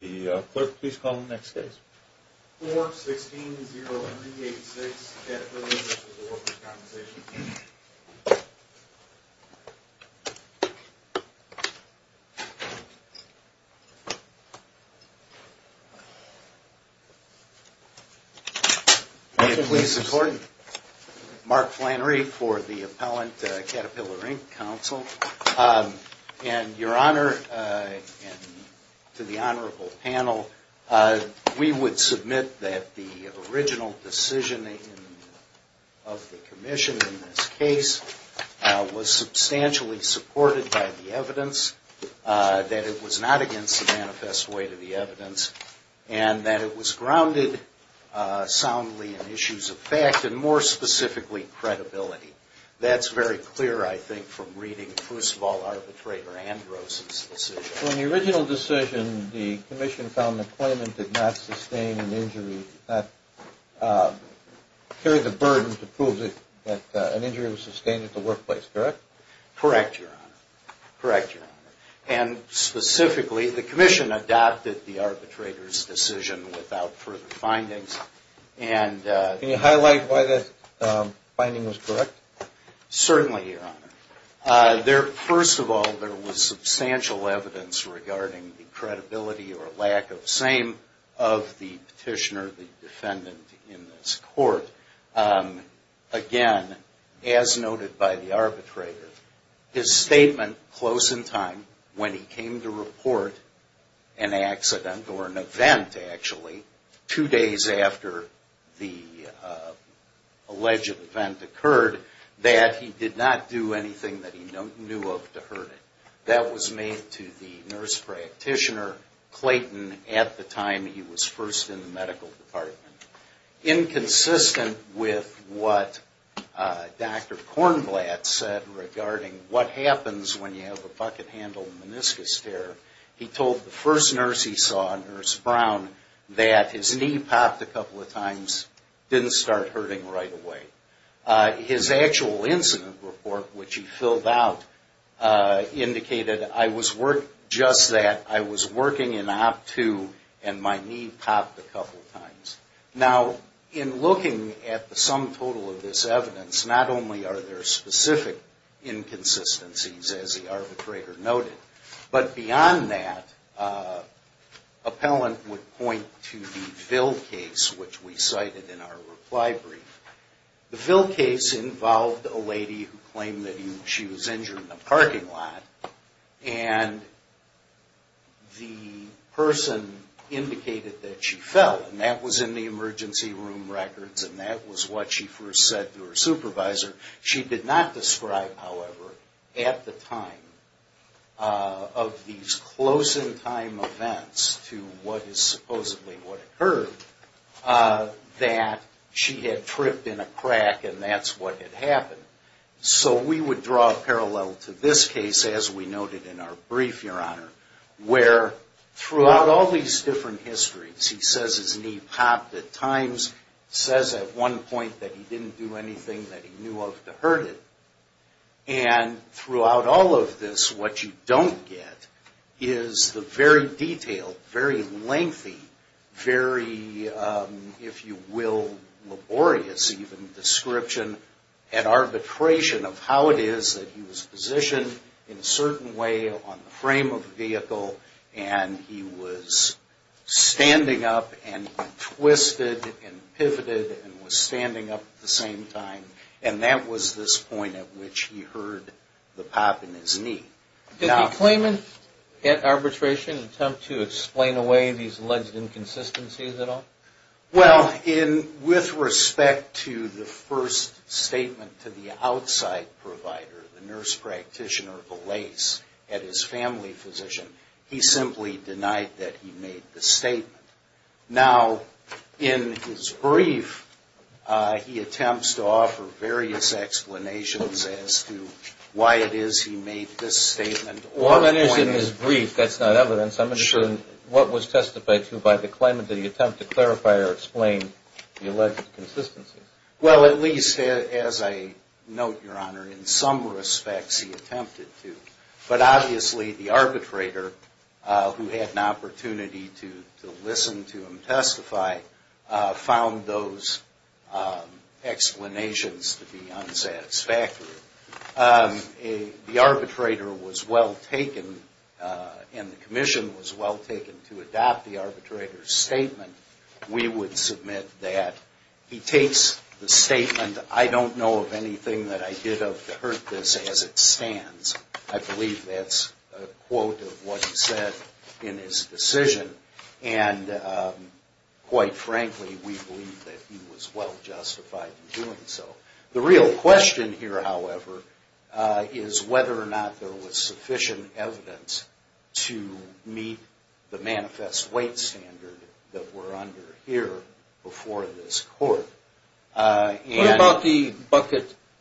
The clerk, please call the next case. 4-16-0-3-8-6, Caterpillar, Inc. v. Workers' Compensation Comm'n. May it please the court, Mark Flannery for the appellant Caterpillar, Inc. counsel. And your Honor, and to the honorable panel, we would submit that the original decision of the Commission in this case was substantially supported by the evidence, that it was not against the manifest way to the evidence, and that it was grounded soundly in issues of fact, and more specifically, credibility. That's very clear, I think, from reading first of all Arbitrator Andros' decision. So in the original decision, the Commission found the claimant did not sustain an injury, did not carry the burden to prove that an injury was sustained at the workplace, correct? Correct, Your Honor. Correct, Your Honor. And specifically, the Commission adopted the arbitrator's decision without further findings, and Can you highlight why that finding was correct? Certainly, Your Honor. First of all, there was substantial evidence regarding the credibility or lack of same of the petitioner, the defendant in this court. Again, as noted by the arbitrator, his statement close in time, when he came to report an accident, or an event actually, two days after the alleged event occurred, that he did not do anything that he knew of to hurt it. That was made to the nurse practitioner, Clayton, at the time he was first in the medical department. Inconsistent with what Dr. Kornblatt said regarding what happens when you have a bucket handle meniscus tear, he told the first nurse he saw, Nurse Brown, that his knee popped a couple of times, didn't start hurting right away. His actual incident report, which he filled out, indicated, I was working just that, I was working in op two, and my knee popped a couple of times. Now, in looking at the sum total of this evidence, not only are there specific inconsistencies, as the arbitrator noted, but beyond that, appellant would point to the Ville case, which we cited in our reply brief. The Ville case involved a lady who claimed that she was injured in a parking lot, and the person indicated that she fell, and that was in the emergency room records, and that was what she first said to her supervisor. She did not describe, however, at the time of these close-in-time events to what is supposedly what occurred, that she had tripped in a crack, and that's what had happened. So we would draw a parallel to this case, as we noted in our brief, Your Honor, where throughout all these different histories, he says his knee popped at times, says at one point that he didn't do anything that he knew of to hurt it, and throughout all of this, what you don't get is the very detailed, very lengthy, very, if you will, laborious even description and arbitration of how it is that he was positioned in a certain way on the frame of the vehicle, and he was standing up and twisted and pivoted and was standing up at the same time, and that was this point at which he heard the pop in his knee. Did the claimant at arbitration attempt to explain away these alleged inconsistencies at all? Well, with respect to the first statement to the outside provider, the nurse practitioner, the lace at his family physician, he simply denied that he made the statement. Now, in his brief, he attempts to offer various explanations as to why it is he made this statement or pointed... Well, that is in his brief. That's not evidence. I'm interested in what was testified to by the claimant in the attempt to clarify or explain the alleged inconsistencies. Well, at least, as I note, Your Honor, in some respects he attempted to, but obviously the arbitrator, who had an opportunity to listen to him testify, found those explanations to be unsatisfactory. The arbitrator was well taken, and the commission was well taken to adopt the arbitrator's statement. We would submit that he takes the statement, I don't know of anything that I did of to hurt this as it stands. I believe that's a quote of what he said in his decision, and quite frankly, we believe that he was well justified in doing so. The real question here, however, is whether or not there was sufficient evidence to meet the manifest weight standard that we're under here before this court. What about the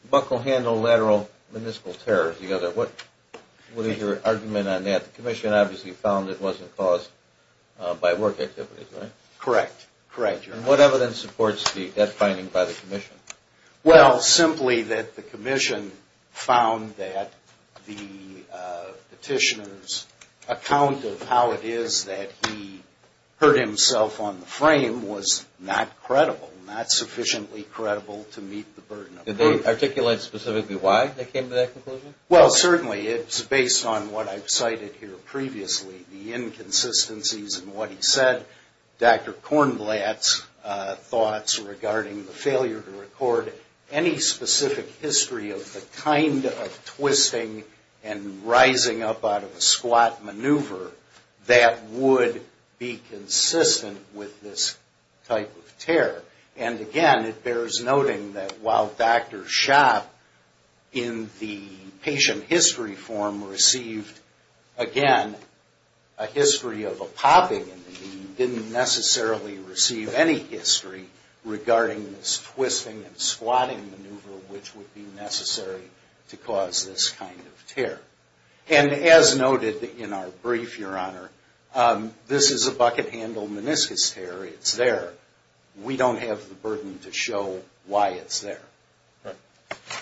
buckle handle lateral miniscule tear? What is your argument on that? The commission obviously found it wasn't caused by work activities, right? Correct. Correct, Your Honor. Well, simply that the commission found that the petitioner's account of how it is that he hurt himself on the frame was not credible, not sufficiently credible to meet the burden of proof. Did they articulate specifically why they came to that conclusion? Well, certainly. It's based on what I've cited here previously, the inconsistencies in what he said, Dr. Kornblatt's thoughts regarding the failure to record any specific history of the kind of twisting and rising up out of a squat maneuver that would be consistent with this type of tear. And again, it bears noting that while Dr. Schaap in the patient history form received, again, a history of a popping and he didn't necessarily receive any history regarding this twisting and squatting maneuver which would be necessary to cause this kind of tear. And as noted in our brief, Your Honor, this is a bucket handle meniscus tear. It's there. We don't have the burden to show why it's there. Right.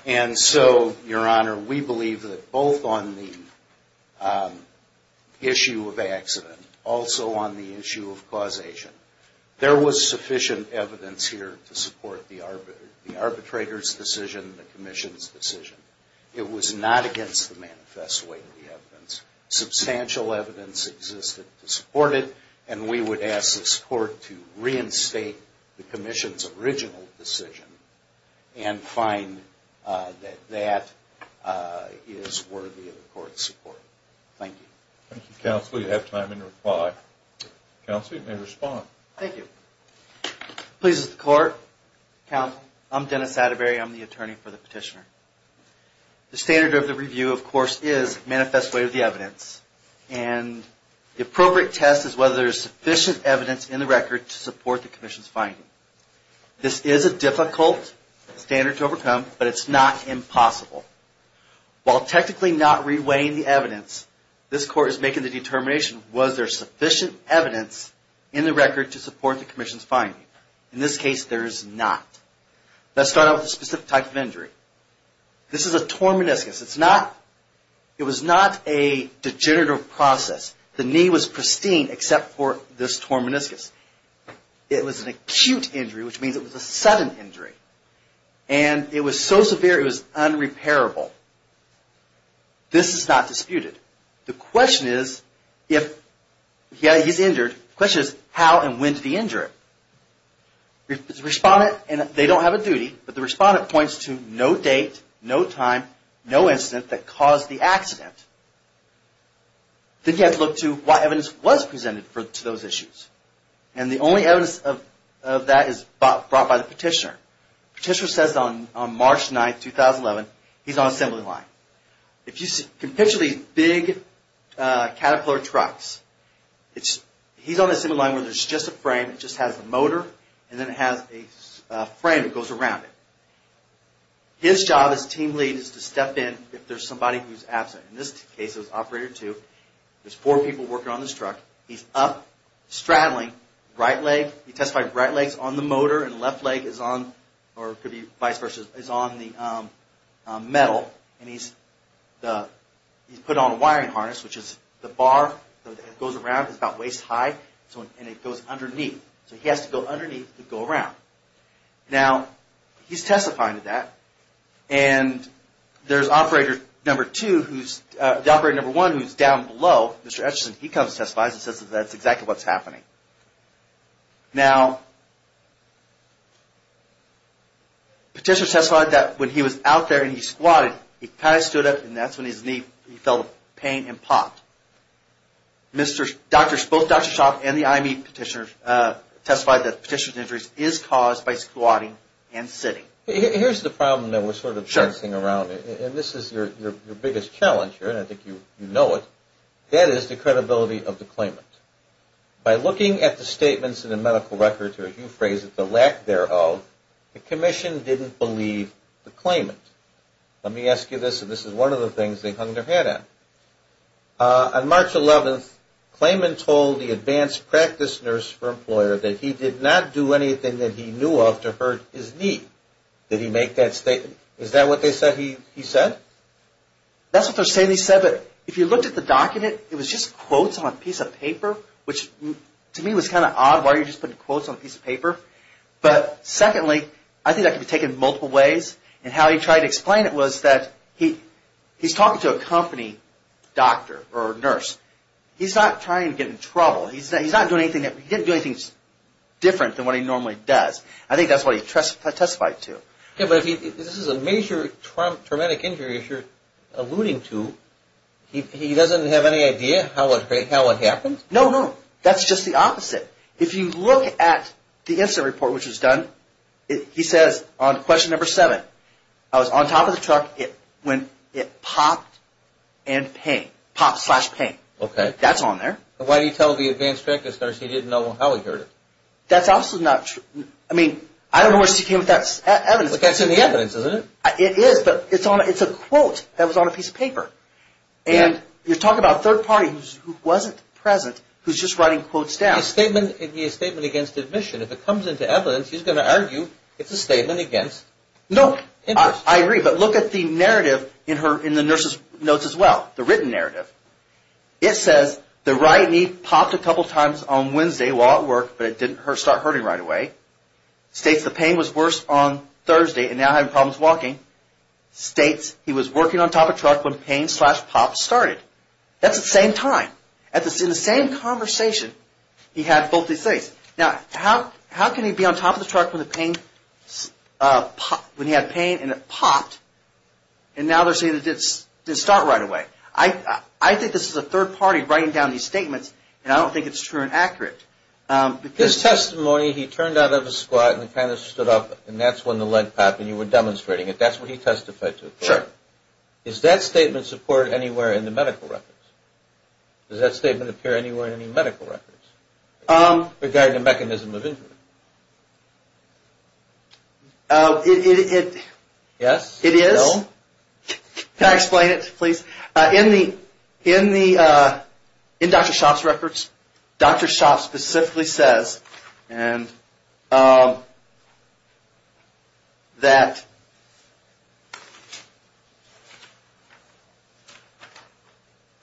And so, Your Honor, we believe that both on the issue of accident, also on the issue of causation, there was sufficient evidence here to support the arbitrator's decision, the commission's decision. It was not against the manifest way of the evidence. Substantial evidence existed to support it, and we would ask the court to reinstate the commission's original decision and find that that is worthy of the court's support. Thank you. Thank you, Counsel. You have time in reply. Counsel, you may respond. Thank you. Pleased to court. I'm Dennis Satterberry. I'm the attorney for the petitioner. The standard of the review, of course, is manifest way of the evidence, and the appropriate test is whether there's sufficient evidence in the record to support the commission's finding. This is a difficult standard to overcome, but it's not impossible. While technically not re-weighing the evidence, this court is making the determination, was there sufficient evidence in the record to support the commission's finding? In this case, there is not. Let's start out with the specific type of injury. This is a torn meniscus. It's not, a degenerative process. The knee was pristine except for this torn meniscus. It was an acute injury, which means it was a sudden injury, and it was so severe it was unrepairable. This is not disputed. The question is, if he's injured, the question is how and when did he injure it? The respondent, and they don't have a duty, but the respondent points to no date, no time, no incident that caused the accident. Then you have to look to what evidence was presented to those issues. The only evidence of that is brought by the petitioner. Petitioner says on March 9, 2011, he's on assembly line. If you can picture these big caterpillar trucks, he's on the assembly line where there's just a frame, it just has the His job as team lead is to step in if there's somebody who's absent. In this case, it was operator two. There's four people working on this truck. He's up, straddling, right leg, he testified right leg's on the motor and left leg is on, or could be vice versa, is on the metal, and he's put on a wiring harness, which is the bar that goes around because it's about waist high, and it goes underneath. So he has to go underneath to go around. Now, he's testifying to that, and there's operator number two who's, the operator number one who's down below, Mr. Etchison, he comes and testifies and says that that's exactly what's happening. Now, petitioner testified that when he was out there and he squatted, he kind of stood up and that's when his knee, he felt pain and popped. Both Dr. Etchison and Petitioners is caused by squatting and sitting. Here's the problem that we're sort of bouncing around, and this is your biggest challenge here, and I think you know it. That is the credibility of the claimant. By looking at the statements in the medical records, or as you phrase it, the lack thereof, the commission didn't believe the claimant. Let me ask you this, and this is one of the things they hung their head on. On March 11th, claimant told the advanced practice nurse for employer that he did not do anything that he knew of to hurt his knee. Did he make that statement? Is that what they said he said? That's what they're saying he said, but if you looked at the document, it was just quotes on a piece of paper, which to me was kind of odd. Why are you just putting quotes on a piece of paper? But secondly, I think that could be taken multiple ways, and how he tried to explain it was that he's talking to a company doctor or nurse. He's not trying to get in there and say, this is different than what he normally does. I think that's what he testified to. Yeah, but if this is a major traumatic injury, as you're alluding to, he doesn't have any idea how it happened? No, no. That's just the opposite. If you look at the incident report, which was done, he says on question number seven, I was on top of the truck when it popped and pained. Pop slash pain. That's on there. Why do you tell the advanced practice nurse he didn't know how he hurt it? That's also not true. I mean, I don't know where she came up with that evidence. But that's in the evidence, isn't it? It is, but it's a quote that was on a piece of paper. And you're talking about a third party who wasn't present, who's just writing quotes down. It could be a statement against admission. If it comes into evidence, he's going to argue it's a statement against interest. No, I agree, but look at the narrative in the nurse's notes as well, the written narrative. It says, the right knee popped a couple times on Wednesday while at work, but it didn't start hurting right away. States the pain was worse on Thursday and now having problems walking. States he was working on top of the truck when pain slash pop started. That's the same time. In the same conversation, he had both these things. Now, how can he be on top of the truck when he had pain and it popped, and now they're saying it didn't start right away. I think this is a third party writing down these statements, and I don't think it's true and accurate. His testimony, he turned out of his squat and kind of stood up, and that's when the leg popped, and you were demonstrating it. That's what he testified to. Is that statement supported anywhere in the medical records? Does that statement appear anywhere in any medical records regarding the mechanism of injury? It is. Can I explain it please? In Dr. Schott's records, Dr. Schott specifically says that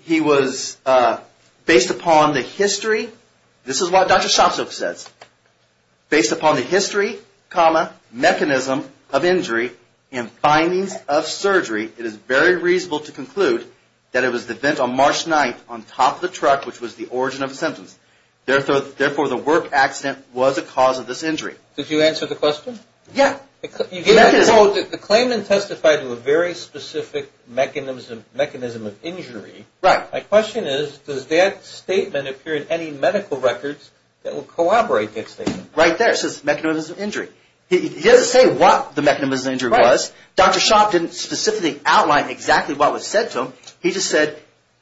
he was based upon the history. This is what Dr. Schott says. Based upon the history, mechanism of injury, and findings of surgery, it is very reasonable to conclude that it was the event on March 9th on top of the truck, which was the origin of the symptoms. Therefore, the work accident was a cause of this injury. Did you answer the question? Yeah. The claimant testified to a very specific mechanism of injury. Right. My question is, does that statement appear in any medical records that will corroborate that statement? Right there. It says mechanism of injury. He doesn't say what the mechanism of injury was. Dr. Schott didn't specifically outline exactly what was said to him. He just said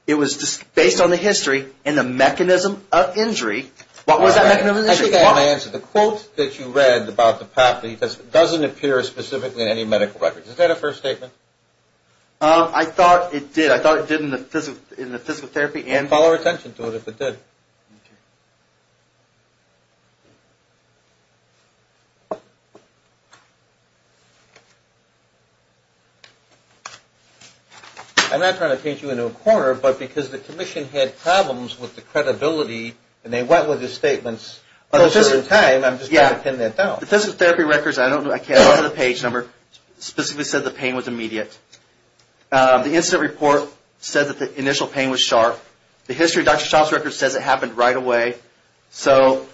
it was based on the history and the mechanism of injury. What was that mechanism of injury? I think I have an answer. The quote that you read about the pathology doesn't appear specifically in any medical records. Is that a first statement? I thought it did. I thought it did in the physical therapy and... Follow her attention to it if it did. I'm not trying to paint you into a corner, but because the commission had problems with the credibility, and they went with the statements, I'm just trying to pin that down. The physical therapy records, I can't remember the page number, specifically said the pain was immediate. The incident report said that the initial pain was sharp. The history of Dr. Schott's record says it happened right away. So,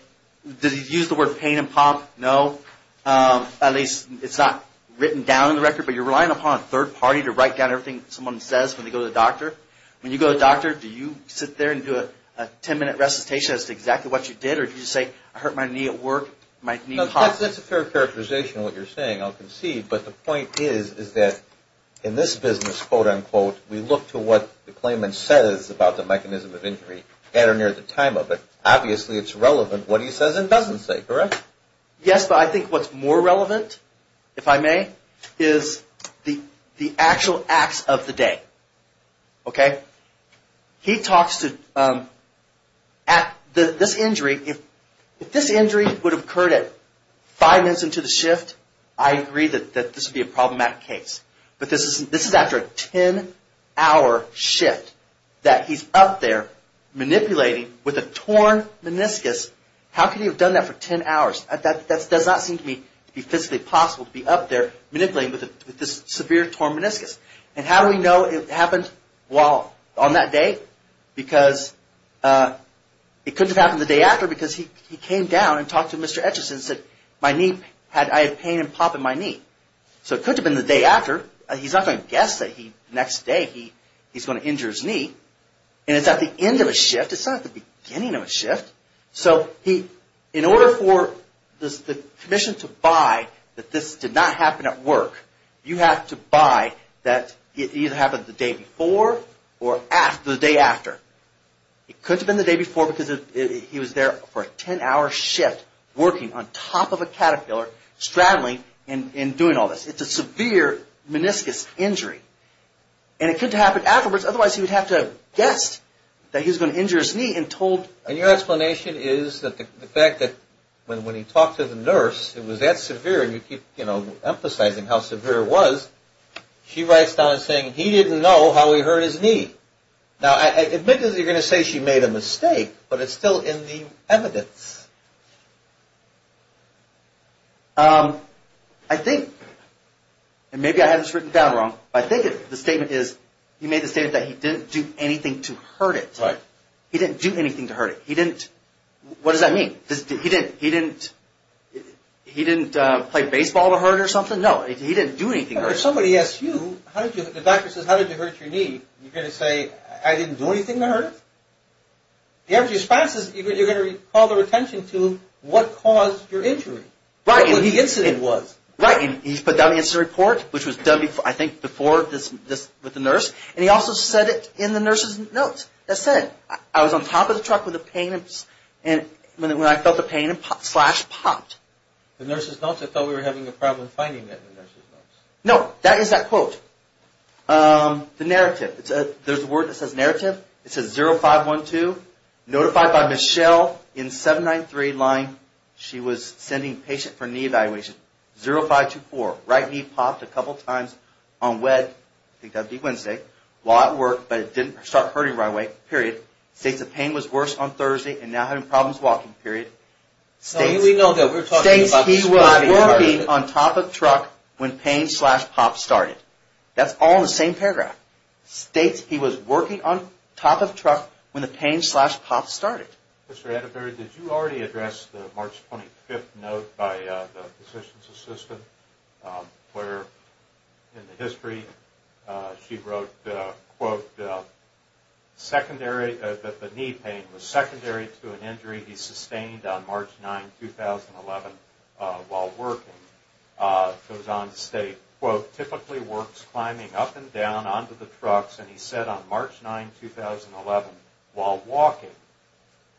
did he use the word pain and pump? No. At least, it's not written down in the record, but you're relying upon a third party to write down everything someone says when they go to the doctor. When you go to the doctor, do you sit there and do a 10-minute recitation as to exactly what you did, or did you say, I hurt my knee at work, my knee popped? That's a fair characterization of what you're saying, I'll concede, but the point is that in this business, quote, unquote, we look to what the claimant says about the mechanism of injury at or near the time of it. Obviously, it's relevant what he says and doesn't say, correct? Yes, but I think what's more relevant, if I may, is the actual acts of the day. If this injury would have occurred at five minutes into the shift, I agree that this would be a problematic case, but this is after a 10-hour shift that he's up there manipulating with a torn meniscus. How could he have done that for 10 hours? That does not seem to me to be physically possible, to be up there manipulating with this severe, torn meniscus. How do we know it happened on that day? It couldn't have happened the day after because he came down and talked to Mr. Etcheson and said, I had pain and pop in my knee. It could have been the day after. He's not going to guess that the next day he's going to injure his knee. It's at the end of a shift, it's not at the beginning of a shift. In order for the commission to buy that this did not happen at work, you have to buy that it either happened the day before or the day after. It couldn't have been the day before because he was there for a 10-hour shift, working on top of a caterpillar, straddling and doing all this. It's a severe meniscus injury. It couldn't have happened afterwards, otherwise he would have to have guessed that he was going to injure his knee and told... And your explanation is that the fact that when he talked to the nurse, it was that severe and you keep emphasizing how severe it was, she writes down saying he didn't know how he hurt his knee. Now, I admit that you're going to say she made a mistake, but it's still in the evidence. I think, and maybe I have this written down wrong, but I think the statement is he made he didn't do anything to hurt it. He didn't do anything to hurt it. What does that mean? He didn't play baseball to hurt it or something? No, he didn't do anything to hurt it. If somebody asks you, the doctor says how did you hurt your knee, you're going to say I didn't do anything to hurt it. You have responses, you're going to call their attention to what caused your injury, what the incident was. Right, and he's put down the incident report, which was done, I think, before with the nurse and he also said it in the nurse's notes. That said, I was on top of the truck with a pain and when I felt the pain, a pop, slash, popped. The nurse's notes? I thought we were having a problem finding that in the nurse's notes. No, that is that quote. The narrative, there's a word that says narrative. It says 0512, notified by Michelle in 793 line, she was sending a patient for knee evaluation. 0524, right knee popped a couple times on Wednesday, I think that would be Wednesday, while at work but it didn't start hurting right away, period. States the pain was worse on Thursday and now having problems walking, period. States he was working on top of the truck when pain, slash, popped started. That's all in the same paragraph. States he was working on top of the truck when the pain, slash, popped started. Mr. Atterbury, did you already address the March 25th note by the physician's assistant where in the history she wrote, quote, secondary, the knee pain was secondary to an injury he sustained on March 9, 2011, while working. It goes on to state, quote, typically works climbing up and down onto the trucks and he said on March 9, 2011, while walking,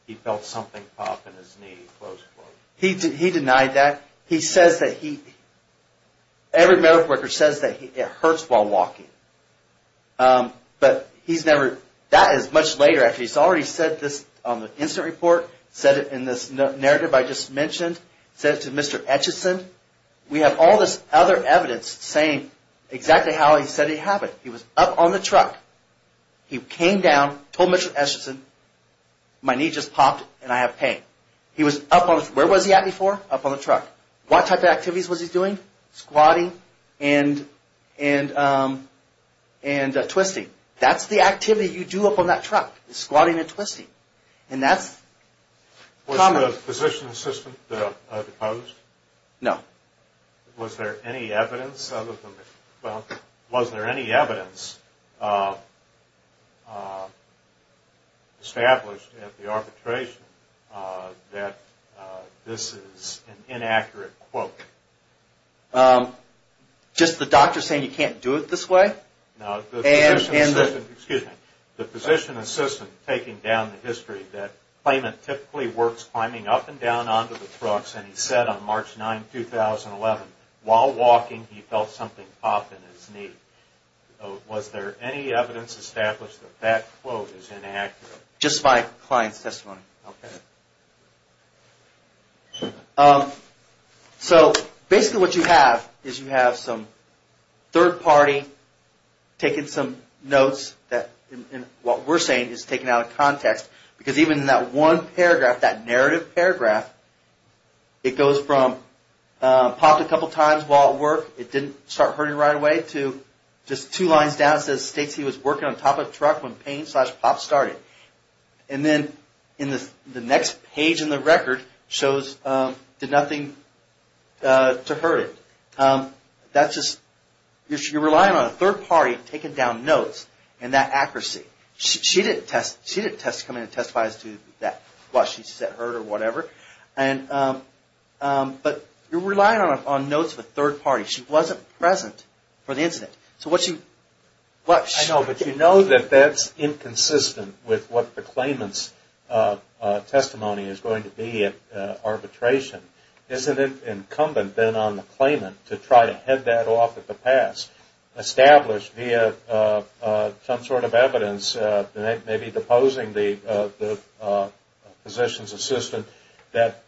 he felt something pop in his knee, close quote. He denied that. He says that he, every medical worker says that it hurts while walking. But he's never, that is much later actually. He's already said this on the incident report, said it in this narrative I just mentioned, said it to Mr. Etcheson. We have all this other evidence saying exactly how he said it happened. He was up on the truck. He came down, told Mr. Etcheson, my knee just popped and I have pain. He was up on the, where was he at before? Up on the truck. What type of activities was he doing? Squatting and twisting. That's the activity you do up on that truck is squatting and twisting. And that's... Was there a physician's assistant that opposed? No. Was there any evidence, well, was there any evidence established at the arbitration that this is an Just the doctor saying you can't do it this way? No, the physician's assistant, excuse me, the physician's assistant taking down the history that claimant typically works climbing up and down onto the trucks and he said on March 9, 2011, while walking, he felt something pop in his knee. Was there any evidence established that that quote is inaccurate? Just my client's testimony. So basically what you have is you have some third party taking some notes that what we're saying is taken out of context because even in that one paragraph, that narrative paragraph, it goes from popped a couple times while at work, it didn't start hurting right away to just two lines down says states he was working on top of a And then in the next page in the record shows did nothing to hurt it. That's just, you're relying on a third party taking down notes and that accuracy. She didn't come in and testify as to why she said hurt or whatever. But you're relying on notes of a third party. She wasn't present for the incident. I know, but you know that that's inconsistent with what the claimant's testimony is going to be at arbitration. Isn't it incumbent then on the claimant to try to head that off at the pass, establish via some sort of evidence, maybe deposing the physician's assistant that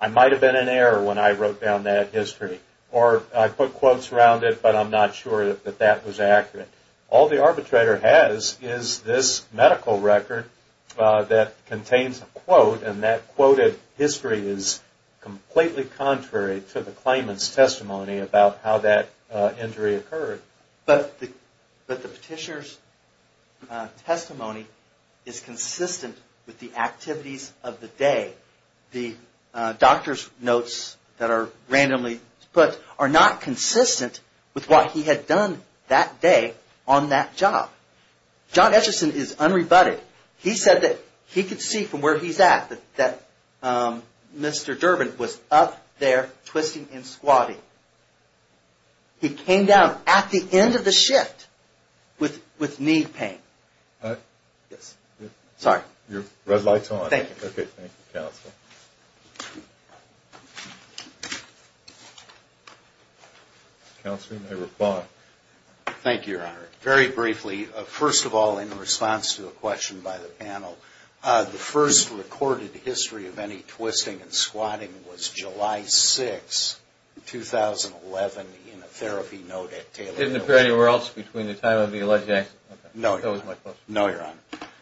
I might have been in error when I wrote down that history or I put quotes around it, but I'm not sure that that was accurate. All the arbitrator has is this medical record that contains a quote and that quoted history is completely contrary to the claimant's testimony about how that injury occurred. But the petitioner's testimony is consistent with the activities of the day. The doctor's notes that are randomly put are not consistent with what he had done that day on that job. John Etchison is unrebutted. He said that he could see from where he's at that Mr. Durbin was up there twisting and squatting. He came down at the end of the shift with knee pain. Your red light's on. Thank you, Your Honor. Very briefly, first of all in response to a question by the panel, the first recorded history of any twisting and squatting was July 6, 2011 in a therapy note at Taylor Medical. Didn't appear anywhere else between the time of the alleged accident? No, Your Honor.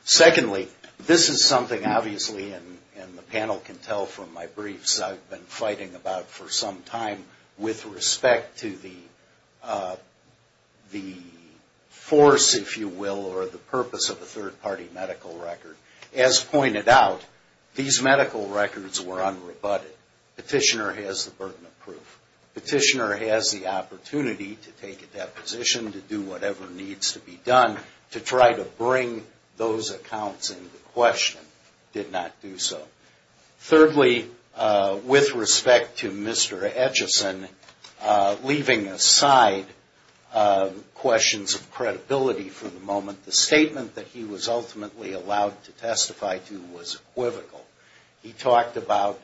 Secondly, this is something obviously, and the panel can tell from my briefs, I've been fighting about for some time with respect to the force, if you will, or the purpose of a third-party medical record. As pointed out, these medical records were unrebutted. Petitioner has the burden of proof. Petitioner has the opportunity to take a deposition, to do whatever needs to be done to try to bring those accounts into question. Did not do so. Thirdly, with respect to Mr. Etchison, leaving aside questions of credibility for the moment, the statement that he was ultimately allowed to testify to was equivocal. He talked about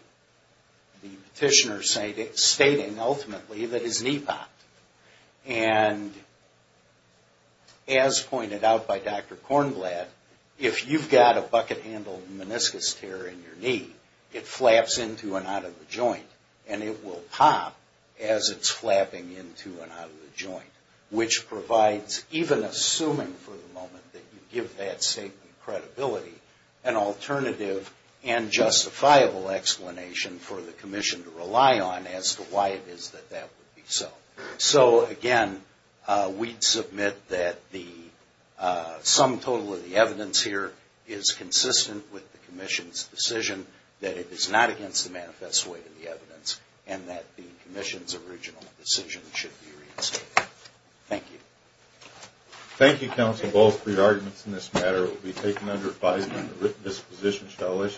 the petitioner stating ultimately that his knee popped. And as pointed out by Dr. Kornblad, if you've got a bucket-handled meniscus tear in your knee, it flaps into and out of the joint. And it will pop as it's flapping into and out of the joint, which provides, even assuming for the moment that you give that statement credibility, an alternative answer. And justifiable explanation for the Commission to rely on as to why it is that that would be so. So again, we'd submit that the sum total of the evidence here is consistent with the Commission's decision that it is not against the manifest way of the evidence, and that the Commission's original decision should be reinstated. Thank you. The Court will stand by.